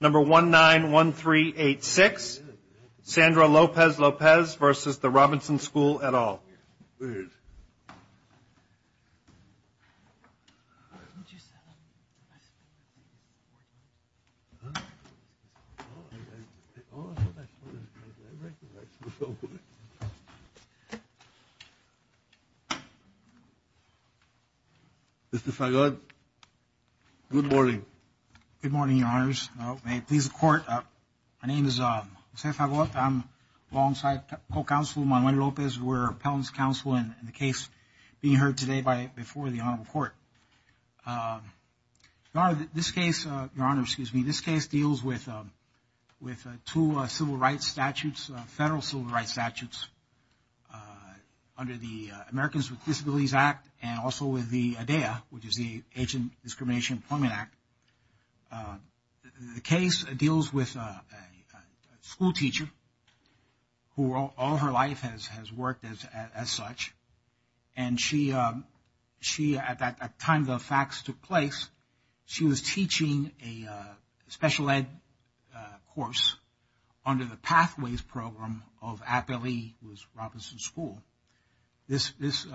Number 191386, Sandra Lopez-Lopez versus the Robinson School et al. Mr. Fagot, good morning. Good morning, Your Honors. May it please the Court, my name is Jose Fagot. I'm alongside co-counsel Manuel Lopez. We're appellant's counsel in the case being heard today before the Honorable Court. Your Honor, this case, Your Honor, excuse me, this case deals with two civil rights statutes, federal civil rights statutes under the Americans with Disabilities Employment Act. The case deals with a school teacher who all her life has worked as such and she, at that time the facts took place, she was teaching a special ed course under the Pathways Program of Appellee with Robinson School. This is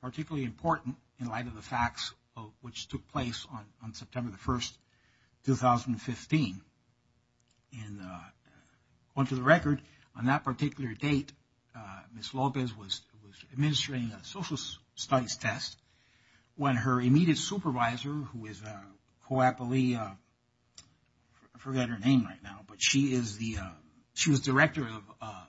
particularly important in light of the facts which took place on September the 1st, 2015. And on to the record, on that particular date, Ms. Lopez was administering a social studies test when her immediate supervisor who is a co-appellee, I forget her name right now, but she is the, she was director of,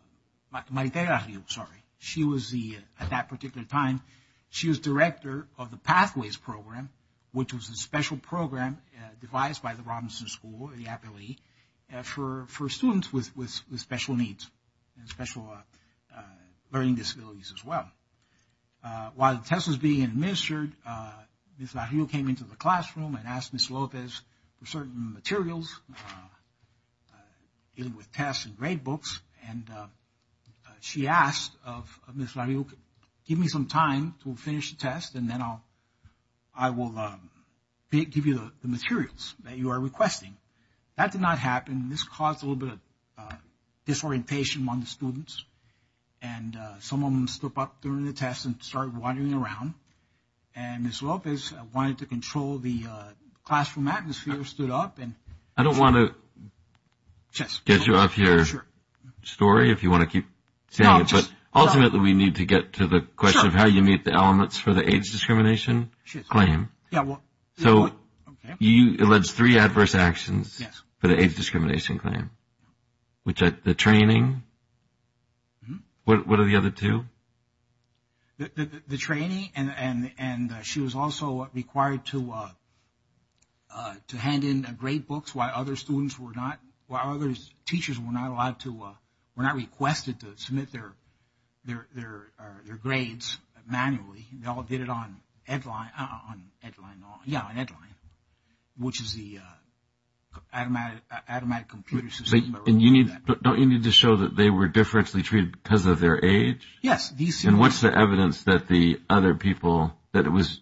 Maritela, sorry, she was the, at that particular time, she was director of the Pathways Program which was a special program devised by the Robinson School, the appellee, for students with special needs and special learning disabilities as well. While the test was being administered, Ms. La Rio came into the classroom and asked Ms. Lopez for certain materials dealing with the test and grade books and she asked of Ms. La Rio, give me some time to finish the test and then I will give you the materials that you are requesting. That did not happen and this caused a little bit of disorientation among the students and some of them stood up during the test and started wandering around and Ms. Lopez wanted to control the classroom atmosphere and stood up. I don't want to get you off your story if you want to keep saying it, but ultimately we need to get to the question of how you meet the elements for the age discrimination claim. So you alleged three adverse actions for the age discrimination claim, which are the training, what are the other two? The training and she was also required to hand in grade books while other students were not, while other teachers were not allowed to, were not requested to submit their grades manually. They all did it on Edline, which is the automatic computer system. Don't you need to show that they were differentially treated because of their age? Yes. And what's the evidence that the other people, that it was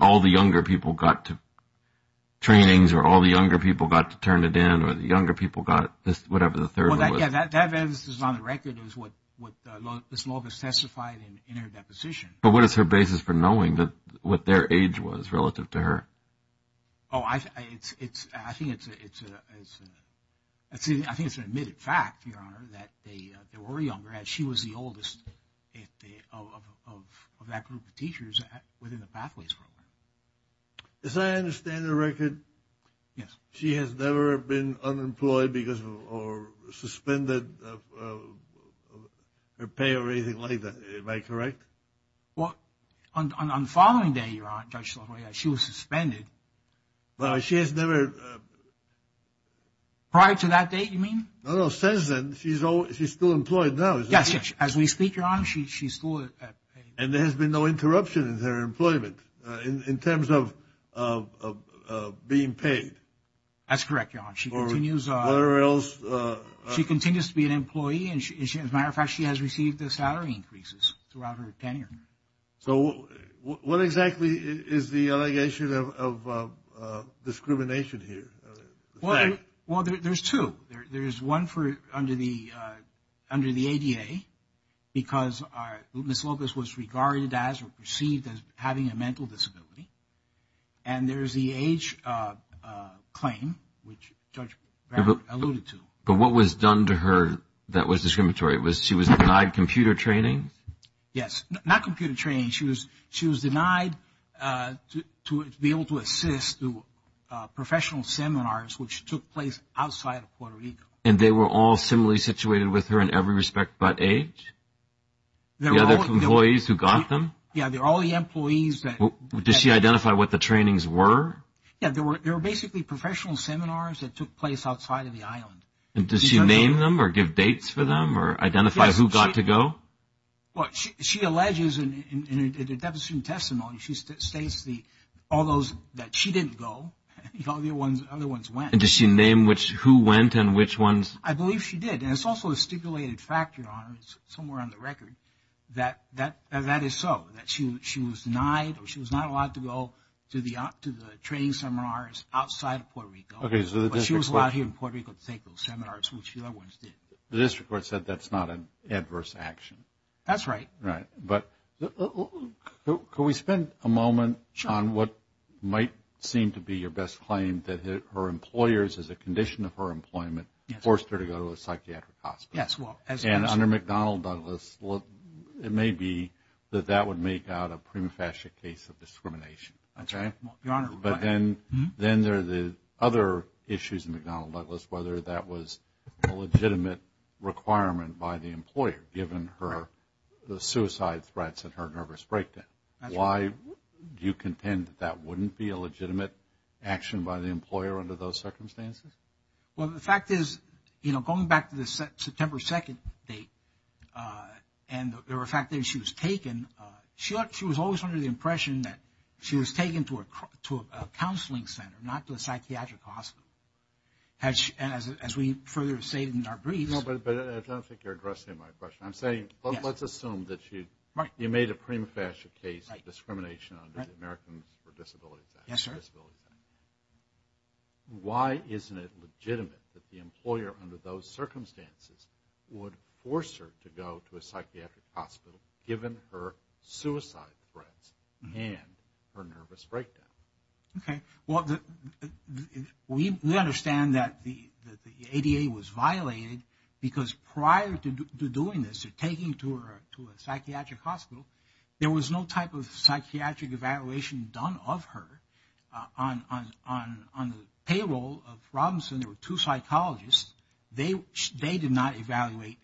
all the younger people got to trainings or all the younger people got to turn it in or the younger people got this, whatever the third one was? That evidence is on the record is what Ms. Lopez testified in her deposition. But what is her basis for knowing what their age was relative to her? I think it's an admitted fact, Your Honor, that they were younger and she was the oldest of that group of teachers within the Pathways Program. As I understand the record, she has never been unemployed because of or suspended her pay or anything like that. Am I correct? Well, on the following day, Your Honor, Judge LaFleur, she was suspended. She has never... Prior to that date, you mean? No, no, since then. She's still employed now. Yes, yes. As we speak, Your Honor, she's still at... And there has been no interruption in her employment in terms of being paid. That's correct, Your Honor. She continues... Or else... She continues to be an employee and as a matter of fact, she has received the salary increases throughout her tenure. So what exactly is the allegation of discrimination here? Well, there's two. There's one under the ADA because Ms. Lopez was regarded as or perceived as having a mental disability. And there's the age claim, which Judge LaFleur alluded to. But what was done to her that was discriminatory? She was denied computer training? Yes. Not computer training. She was denied to be able to assist through professional seminars which took place outside of Puerto Rico. And they were all similarly situated with her in every respect but age? The other employees who got them? Yes, all the employees that... Does she identify what the trainings were? Yes, they were basically professional seminars that took place outside of the island. And does she name them or give dates for them or identify who got to go? Well, she alleges in a definite testimony, she states all those that she didn't go, all the other ones went. And does she name who went and which ones? I believe she did. And it's also a stipulated fact, Your Honor, somewhere on the record that that is so. That she was denied or she was not allowed to go to the training seminars outside of Puerto Rico. But she was allowed here in Puerto Rico to take those seminars which the other ones did. The district court said that's not an adverse action. That's your best claim that her employers, as a condition of her employment, forced her to go to a psychiatric hospital. Yes, well, as... And under McDonnell Douglas, it may be that that would make out a prima facie case of discrimination. That's right, Your Honor. But then there are the other issues in McDonnell Douglas, whether that was a legitimate requirement by the employer given her the suicide threats and her nervous breakdown. Why do you contend that that wouldn't be a legitimate action by the employer under those circumstances? Well, the fact is, you know, going back to the September 2nd date, and the fact that she was taken, she was always under the impression that she was taken to a counseling center, not to a psychiatric hospital. And as we further say in our briefs... No, but I don't think you're addressing my question. I'm saying, let's assume that you made a prima facie case of discrimination under the Americans with Disabilities Act. Yes, sir. Why isn't it legitimate that the employer under those circumstances would force her to go to a psychiatric hospital given her suicide threats and her nervous breakdown? Okay, well, we understand that the ADA was violated because prior to doing this, to taking her to a psychiatric hospital, there was no type of psychiatric evaluation done of her. On the payroll of Robinson, there were two psychologists. They did not evaluate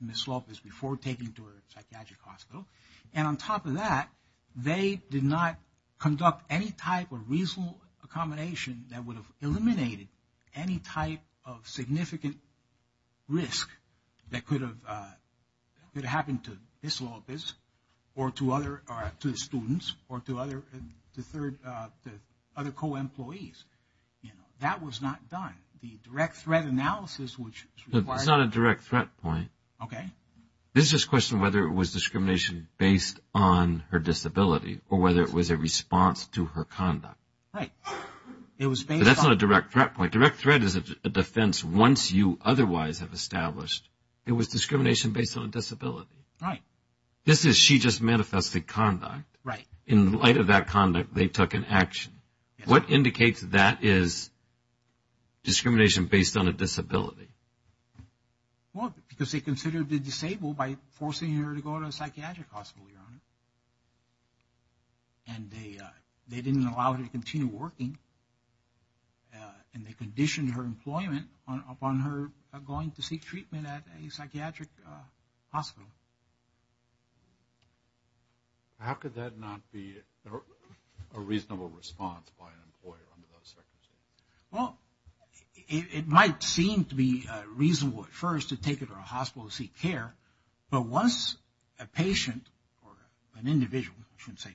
Ms. Lopez before taking her to a psychiatric hospital. And on top of that, they did not conduct any type of reasonable accommodation that would have eliminated any type of significant risk that could have happened to Ms. Lopez or to the students or to other co-employees. That was not done. The direct threat analysis which... It's not a direct threat point. Okay. This is a question of whether it was discrimination based on her disability or whether it was a response to her conduct. Right. It was based on... That's not a direct threat point. Direct threat is a defense once you otherwise have established it was discrimination based on a disability. Right. This is she just manifested conduct. Right. In light of that conduct, they took an action. What indicates that is discrimination based on a disability? Well, because they considered the disabled by forcing her to go to a psychiatric hospital, Your Honor. And they didn't allow her to continue working. And they conditioned her employment upon her going to seek treatment at a psychiatric hospital. How could that not be a reasonable response by an employer under those circumstances? Well, it might seem to be reasonable at first to take her to a hospital to seek care. But once a patient or an individual, I shouldn't say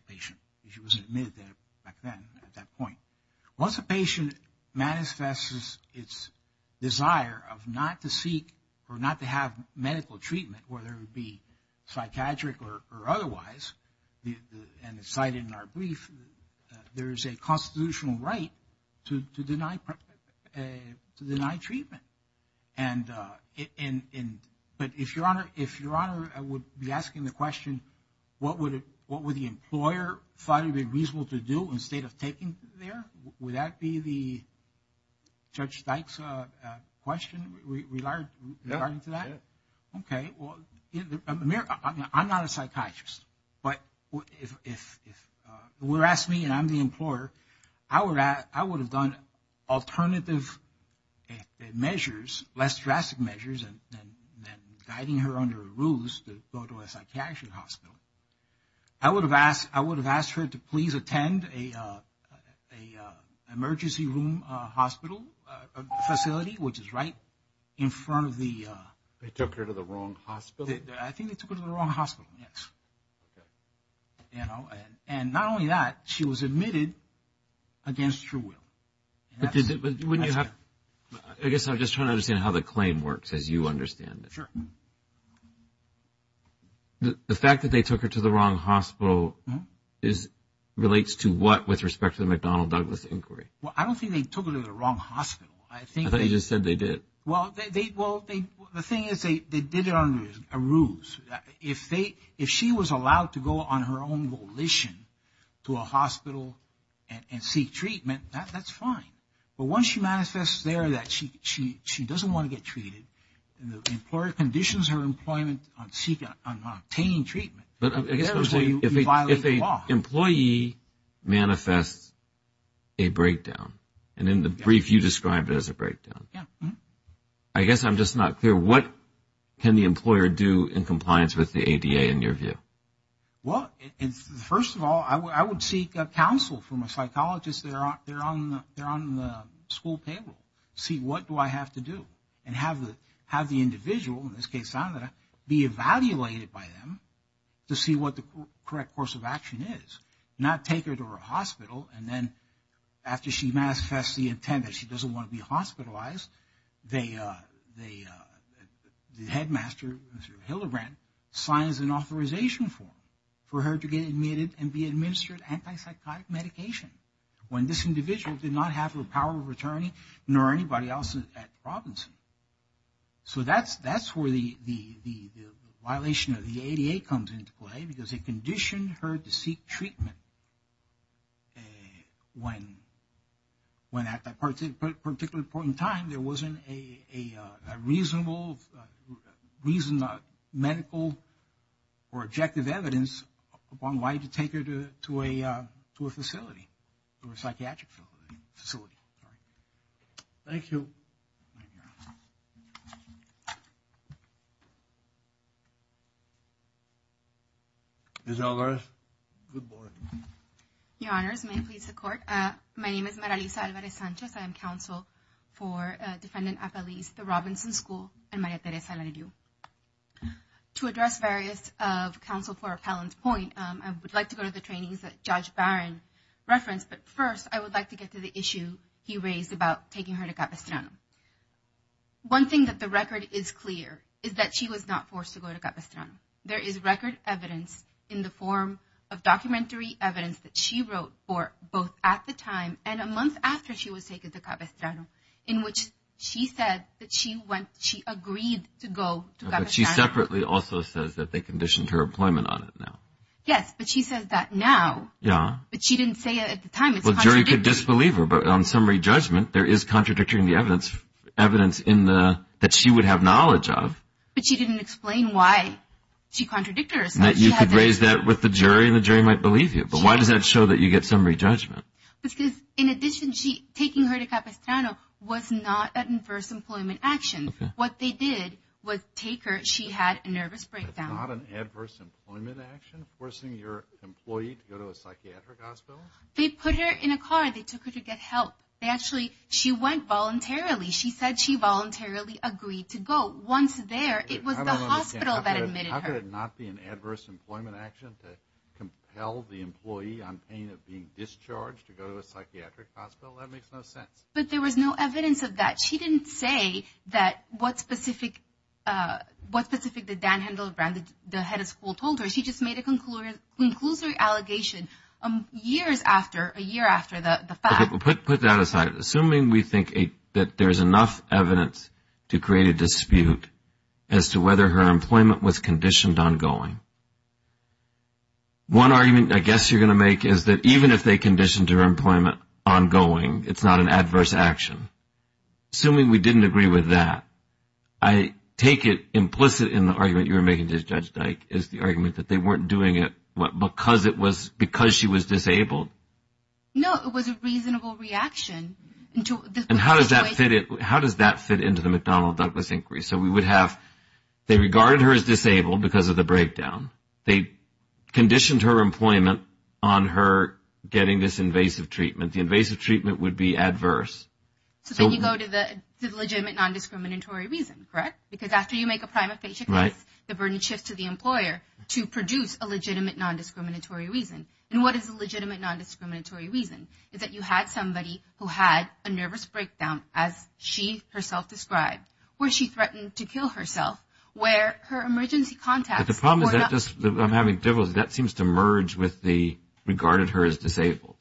desire of not to seek or not to have medical treatment, whether it be psychiatric or otherwise, and it's cited in our brief, there is a constitutional right to deny treatment. But if, Your Honor, I would be asking the question, what would the employer find to be a question regarding to that? Okay. Well, I'm not a psychiatrist. But if you were to ask me and I'm the employer, I would have done alternative measures, less drastic measures than guiding her under rules to go to a psychiatric hospital. I would have asked her to please attend a emergency room hospital facility, which is right in front of the... They took her to the wrong hospital? I think they took her to the wrong hospital, yes. Okay. And not only that, she was admitted against her will. I guess I'm just trying to understand how the claim works as you understand it. Sure. The fact that they took her to the wrong hospital relates to what with respect to the I don't think they took her to the wrong hospital. I thought you just said they did. Well, the thing is they did it under a ruse. If she was allowed to go on her own volition to a hospital and seek treatment, that's fine. But once she manifests there that she doesn't want to get treated, the employer conditions her employment on obtaining treatment. I guess I'm just not clear. What can the employer do in compliance with the ADA in your view? Well, first of all, I would seek counsel from a psychologist. They're on the school payroll. See what do I have to do and have the individual, in this case Sandra, be evaluated by them to see what the correct course of action is. Not take her to her hospital and then after she manifests the intent that she doesn't want to be hospitalized, the headmaster, Mr. Hildebrand, signs an authorization form for her to get admitted and be administered anti-psychotic medication when this individual did not have her power of attorney nor anybody else at the province. So that's where the violation of the ADA comes into play because it conditioned her to seek treatment when at that particular point in time there wasn't a reasonable medical or objective evidence upon why to take her to a facility or a psychiatric facility. Thank you. Ms. Alvarez, good morning. Your honors, may it please the court, my name is Maralisa Alvarez Sanchez. I am counsel for defendant appellees, the Robinson School and Maria Teresa Laredo. To address various of counsel for appellant point, I would like to go to the trainings that Judge Barron referenced, but first I would like to get to the issue he raised about taking her to Capistrano. One thing that the record is clear is that she was not forced to go to Capistrano. There is record evidence in the form of documentary evidence that she wrote for both at the time and a month after she was taken to Capistrano in which she said that she agreed to go to Capistrano. She separately also says that they conditioned her employment on it now. Yes, but she says that now, but she didn't say it at the time. The jury could disbelieve her, but on summary judgment, there is contradictory evidence in the... that she would have knowledge of. But she didn't explain why she contradicted herself. You could raise that with the jury and the jury might believe you, but why does that show that you get summary judgment? Because in addition, taking her to Capistrano was not an adverse employment action. What they did was take her, she had a nervous breakdown. Not an adverse employment action, forcing your employee to go to a psychiatric hospital? They put her in a car. They took her to get help. They actually... she went voluntarily. She said she voluntarily agreed to go. Once there, it was the hospital that admitted her. How could it not be an adverse employment action to compel the employee on pain of being discharged to go to a psychiatric hospital? That makes no sense. But there was no evidence of that. She didn't say that what specific... the head of school told her. She just made a conclusive allegation years after, a year after the fact. Put that aside. Assuming we think that there's enough evidence to create a dispute as to whether her employment was conditioned on going. One argument I guess you're going to make is that even if they conditioned her employment on going, it's not an adverse action. Assuming we didn't agree with that, I take it implicit in the argument you were making, Judge Dyke, is the argument that they weren't doing it because it was... because she was disabled? No, it was a reasonable reaction. And how does that fit into the McDonnell-Douglas increase? So we would have... they regarded her as disabled because of the breakdown. They conditioned her employment on her getting this invasive treatment. The invasive treatment would be adverse. So then you go to the legitimate non-discriminatory reason, correct? Because after you make a prima facie case, the burden shifts to the employer to produce a legitimate non-discriminatory reason. And what is a legitimate non-discriminatory reason? Is that you had somebody who had a nervous breakdown, as she herself described, where she threatened to kill herself, where her emergency contacts... But the problem is that just... I'm having difficulty. That seems to merge with the regarded her as disabled.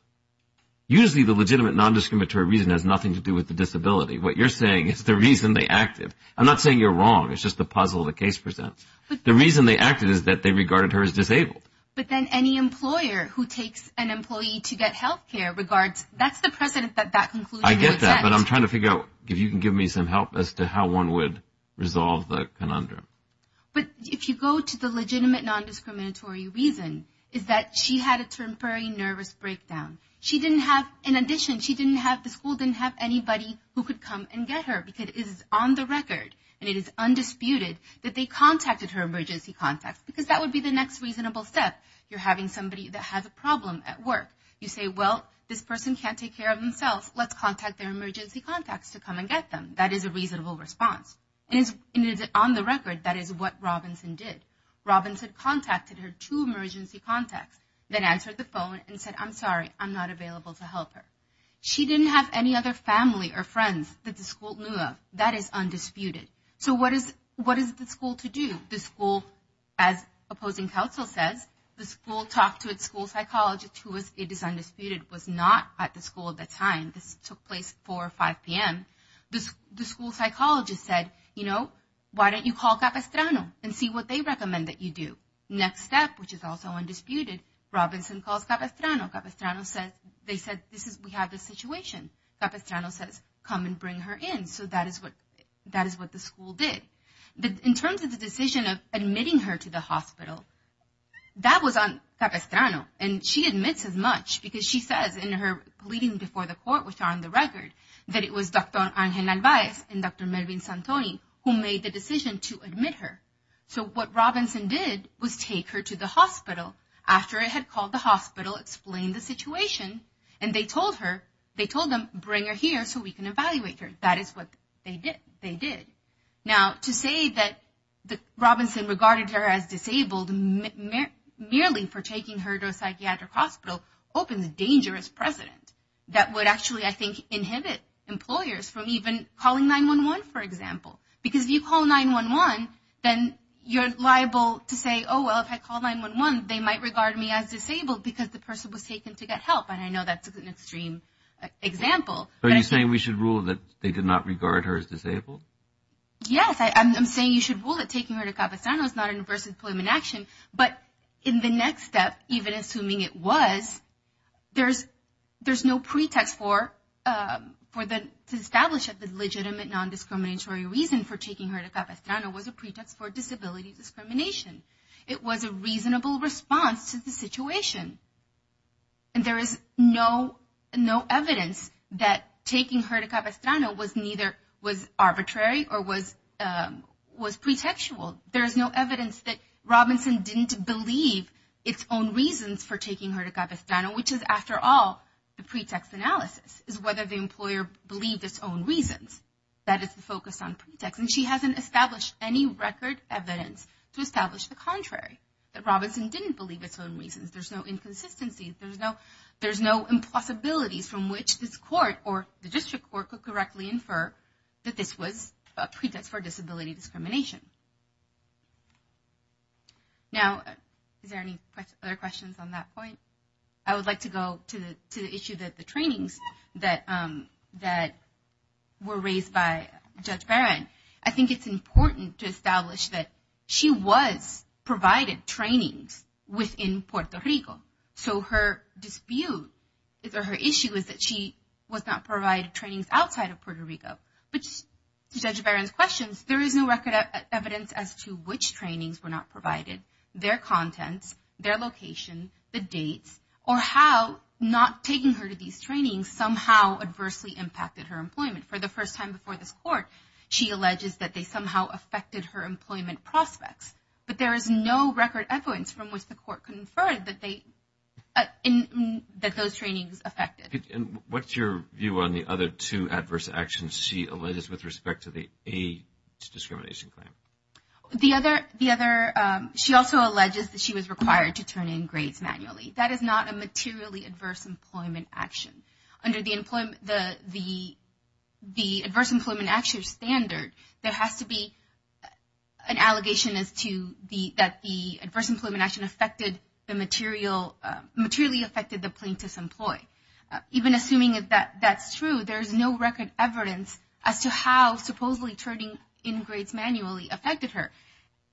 Usually the legitimate non-discriminatory reason has nothing to do with the disability. What you're saying is the reason they acted. I'm not saying you're wrong. It's just the puzzle the case presents. The reason they acted is that they regarded her as disabled. But then any employer who takes an employee to get health care regards... That's the precedent that that conclusion would set. I get that, but I'm trying to figure out if you can give me some help as to how one would resolve the conundrum. But if you go to the legitimate non-discriminatory reason, is that she had a temporary nervous breakdown. She didn't have... In addition, she didn't have... The school didn't have anybody who could come and get her. Because it is on the record, and it is undisputed, that they contacted her emergency contacts. Because that would be the next reasonable step. You're having somebody that has a problem at work. You say, well, this person can't take care of themselves. Let's contact their emergency contacts to come and get them. That is a reasonable response. And it is on the record, that is what Robinson did. Robinson contacted her two emergency contacts, then answered the phone and said, I'm sorry, I'm not available to help her. She didn't have any other family or friends that the school knew of. That is undisputed. So what is the school to do? The school, as opposing counsel says, the school talked to its school psychologist, who is, it is undisputed, was not at the school at the time. This took place 4 or 5 p.m. The school psychologist said, you know, why don't you call Capistrano and see what they recommend that you do? Next step, which is also undisputed, Robinson calls Capistrano. Capistrano says, they said, we have this situation. Capistrano says, come and bring her in. So that is what the school did. In terms of the decision of admitting her to the hospital, that was on Capistrano. And she admits as much, because she says in her pleading before the court, which are on the record, that it was Dr. Angel Alvarez and Dr. Melvin Santoni who made the decision to admit her. So what Robinson did was take her to the hospital after it had called the hospital, explained the situation. And they told her, they told them, bring her here so we can evaluate her. That is what they did. Now, to say that Robinson regarded her as disabled merely for taking her to a psychiatric hospital opens a dangerous precedent that would actually, I think, inhibit employers from even calling 9-1-1, for example. Because if you call 9-1-1, then you're liable to say, oh, well, if I call 9-1-1, they might regard me as disabled because the person was taken to get help. And I know that's an extreme example. Are you saying we should rule that they did not regard her as disabled? Yes, I'm saying you should rule that taking her to Capistrano is not an adverse employment action. But in the next step, even assuming it was, there's no pretext to establish that the legitimate non-discriminatory reason for taking her to Capistrano was a pretext for disability discrimination. It was a reasonable response to the situation. And there is no evidence that taking her to Capistrano was arbitrary or was pretextual. There is no evidence that Robinson didn't believe its own reasons for taking her to Capistrano, which is, after all, the pretext analysis, is whether the employer believed its own reasons. That is the focus on pretext. And she hasn't established any record evidence to establish the contrary, that Robinson didn't believe its own reasons. There's no inconsistencies. There's no impossibilities from which this court or the district court could correctly infer that this was a pretext for disability discrimination. Now, is there any other questions on that point? I would like to go to the issue that the trainings that were raised by Judge Barron. I think it's important to establish that she was provided trainings within Puerto Rico. So her dispute, or her issue, is that she was not provided trainings outside of Puerto Rico. But to Judge Barron's questions, there is no record evidence as to which trainings were not provided, their contents, their location, the dates, or how not taking her to these trainings somehow adversely impacted her employment. For the first time before this court, she alleges that they somehow affected her employment prospects. But there is no record evidence from which the court conferred that those trainings affected. And what's your view on the other two adverse actions she alleges with respect to the AIDS discrimination claim? The other, she also alleges that she was required to turn in grades manually. That is not a materially adverse employment action. Under the adverse employment action standard, there has to be an allegation as to that the adverse employment action affected the material, materially affected the plaintiff's employ. Even assuming that that's true, there's no record evidence as to how supposedly turning in grades manually affected her.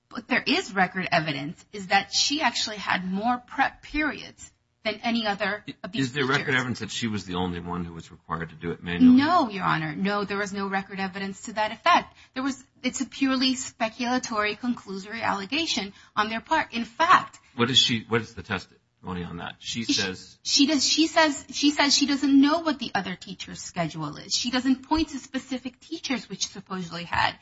But there is record evidence is that she actually had more prep periods than any other of these teachers. Is there record evidence that she was the only one who was required to do it manually? No, Your Honor. No, there was no record evidence to that effect. There was, it's a purely speculatory, conclusory allegation on their part. In fact, What is she, what is the testimony on that? She says, She does, she says, she says she doesn't know what the other teacher's schedule is. She doesn't point to specific teachers which supposedly had,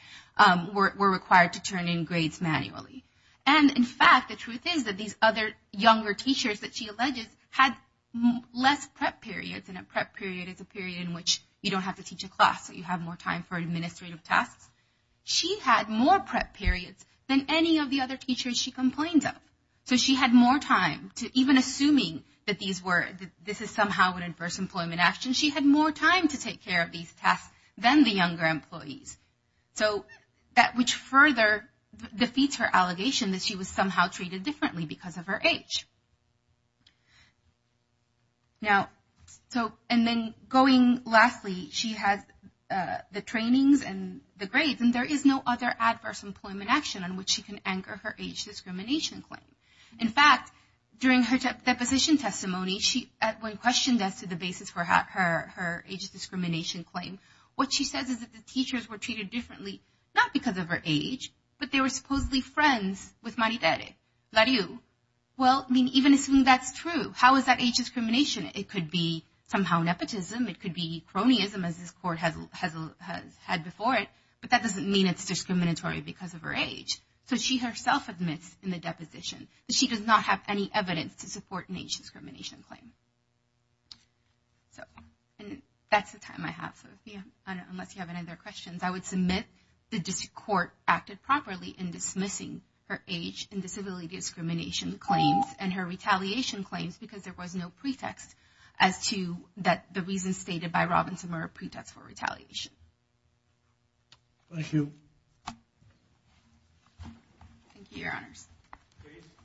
were required to turn in grades manually. And in fact, the truth is that these other younger teachers that she alleges had less prep periods. And a prep period is a period in which you don't have to teach a class. So you have more time for administrative tasks. She had more prep periods than any of the other teachers she complained of. So she had more time to, even assuming that these were, this is somehow an adverse employment action, she had more time to take care of these tasks than the younger employees. So that which further defeats her allegation that she was somehow treated differently because of her age. Now, so, and then going lastly, she has the trainings and the grades, and there is no other adverse employment action on which she can anchor her age discrimination claim. In fact, during her deposition testimony, she, when questioned as to the basis for her age discrimination claim, what she says is that the teachers were treated differently, not because of her age, but they were supposedly friends with Maridere, LaRue. Well, I mean, even assuming that's true, how is that age discrimination? It could be somehow nepotism. It could be cronyism as this court has had before it, but that doesn't mean it's discriminatory because of her age. So she herself admits in the deposition that she does not have any evidence to support an age discrimination claim. So, and that's the time I have. So unless you have any other questions, I would submit the district court acted properly in dismissing her age and disability discrimination claims and her retaliation claims because there was no pretext as to that the reasons stated by Robinson were a pretext for retaliation. Thank you. Thank you, your honors.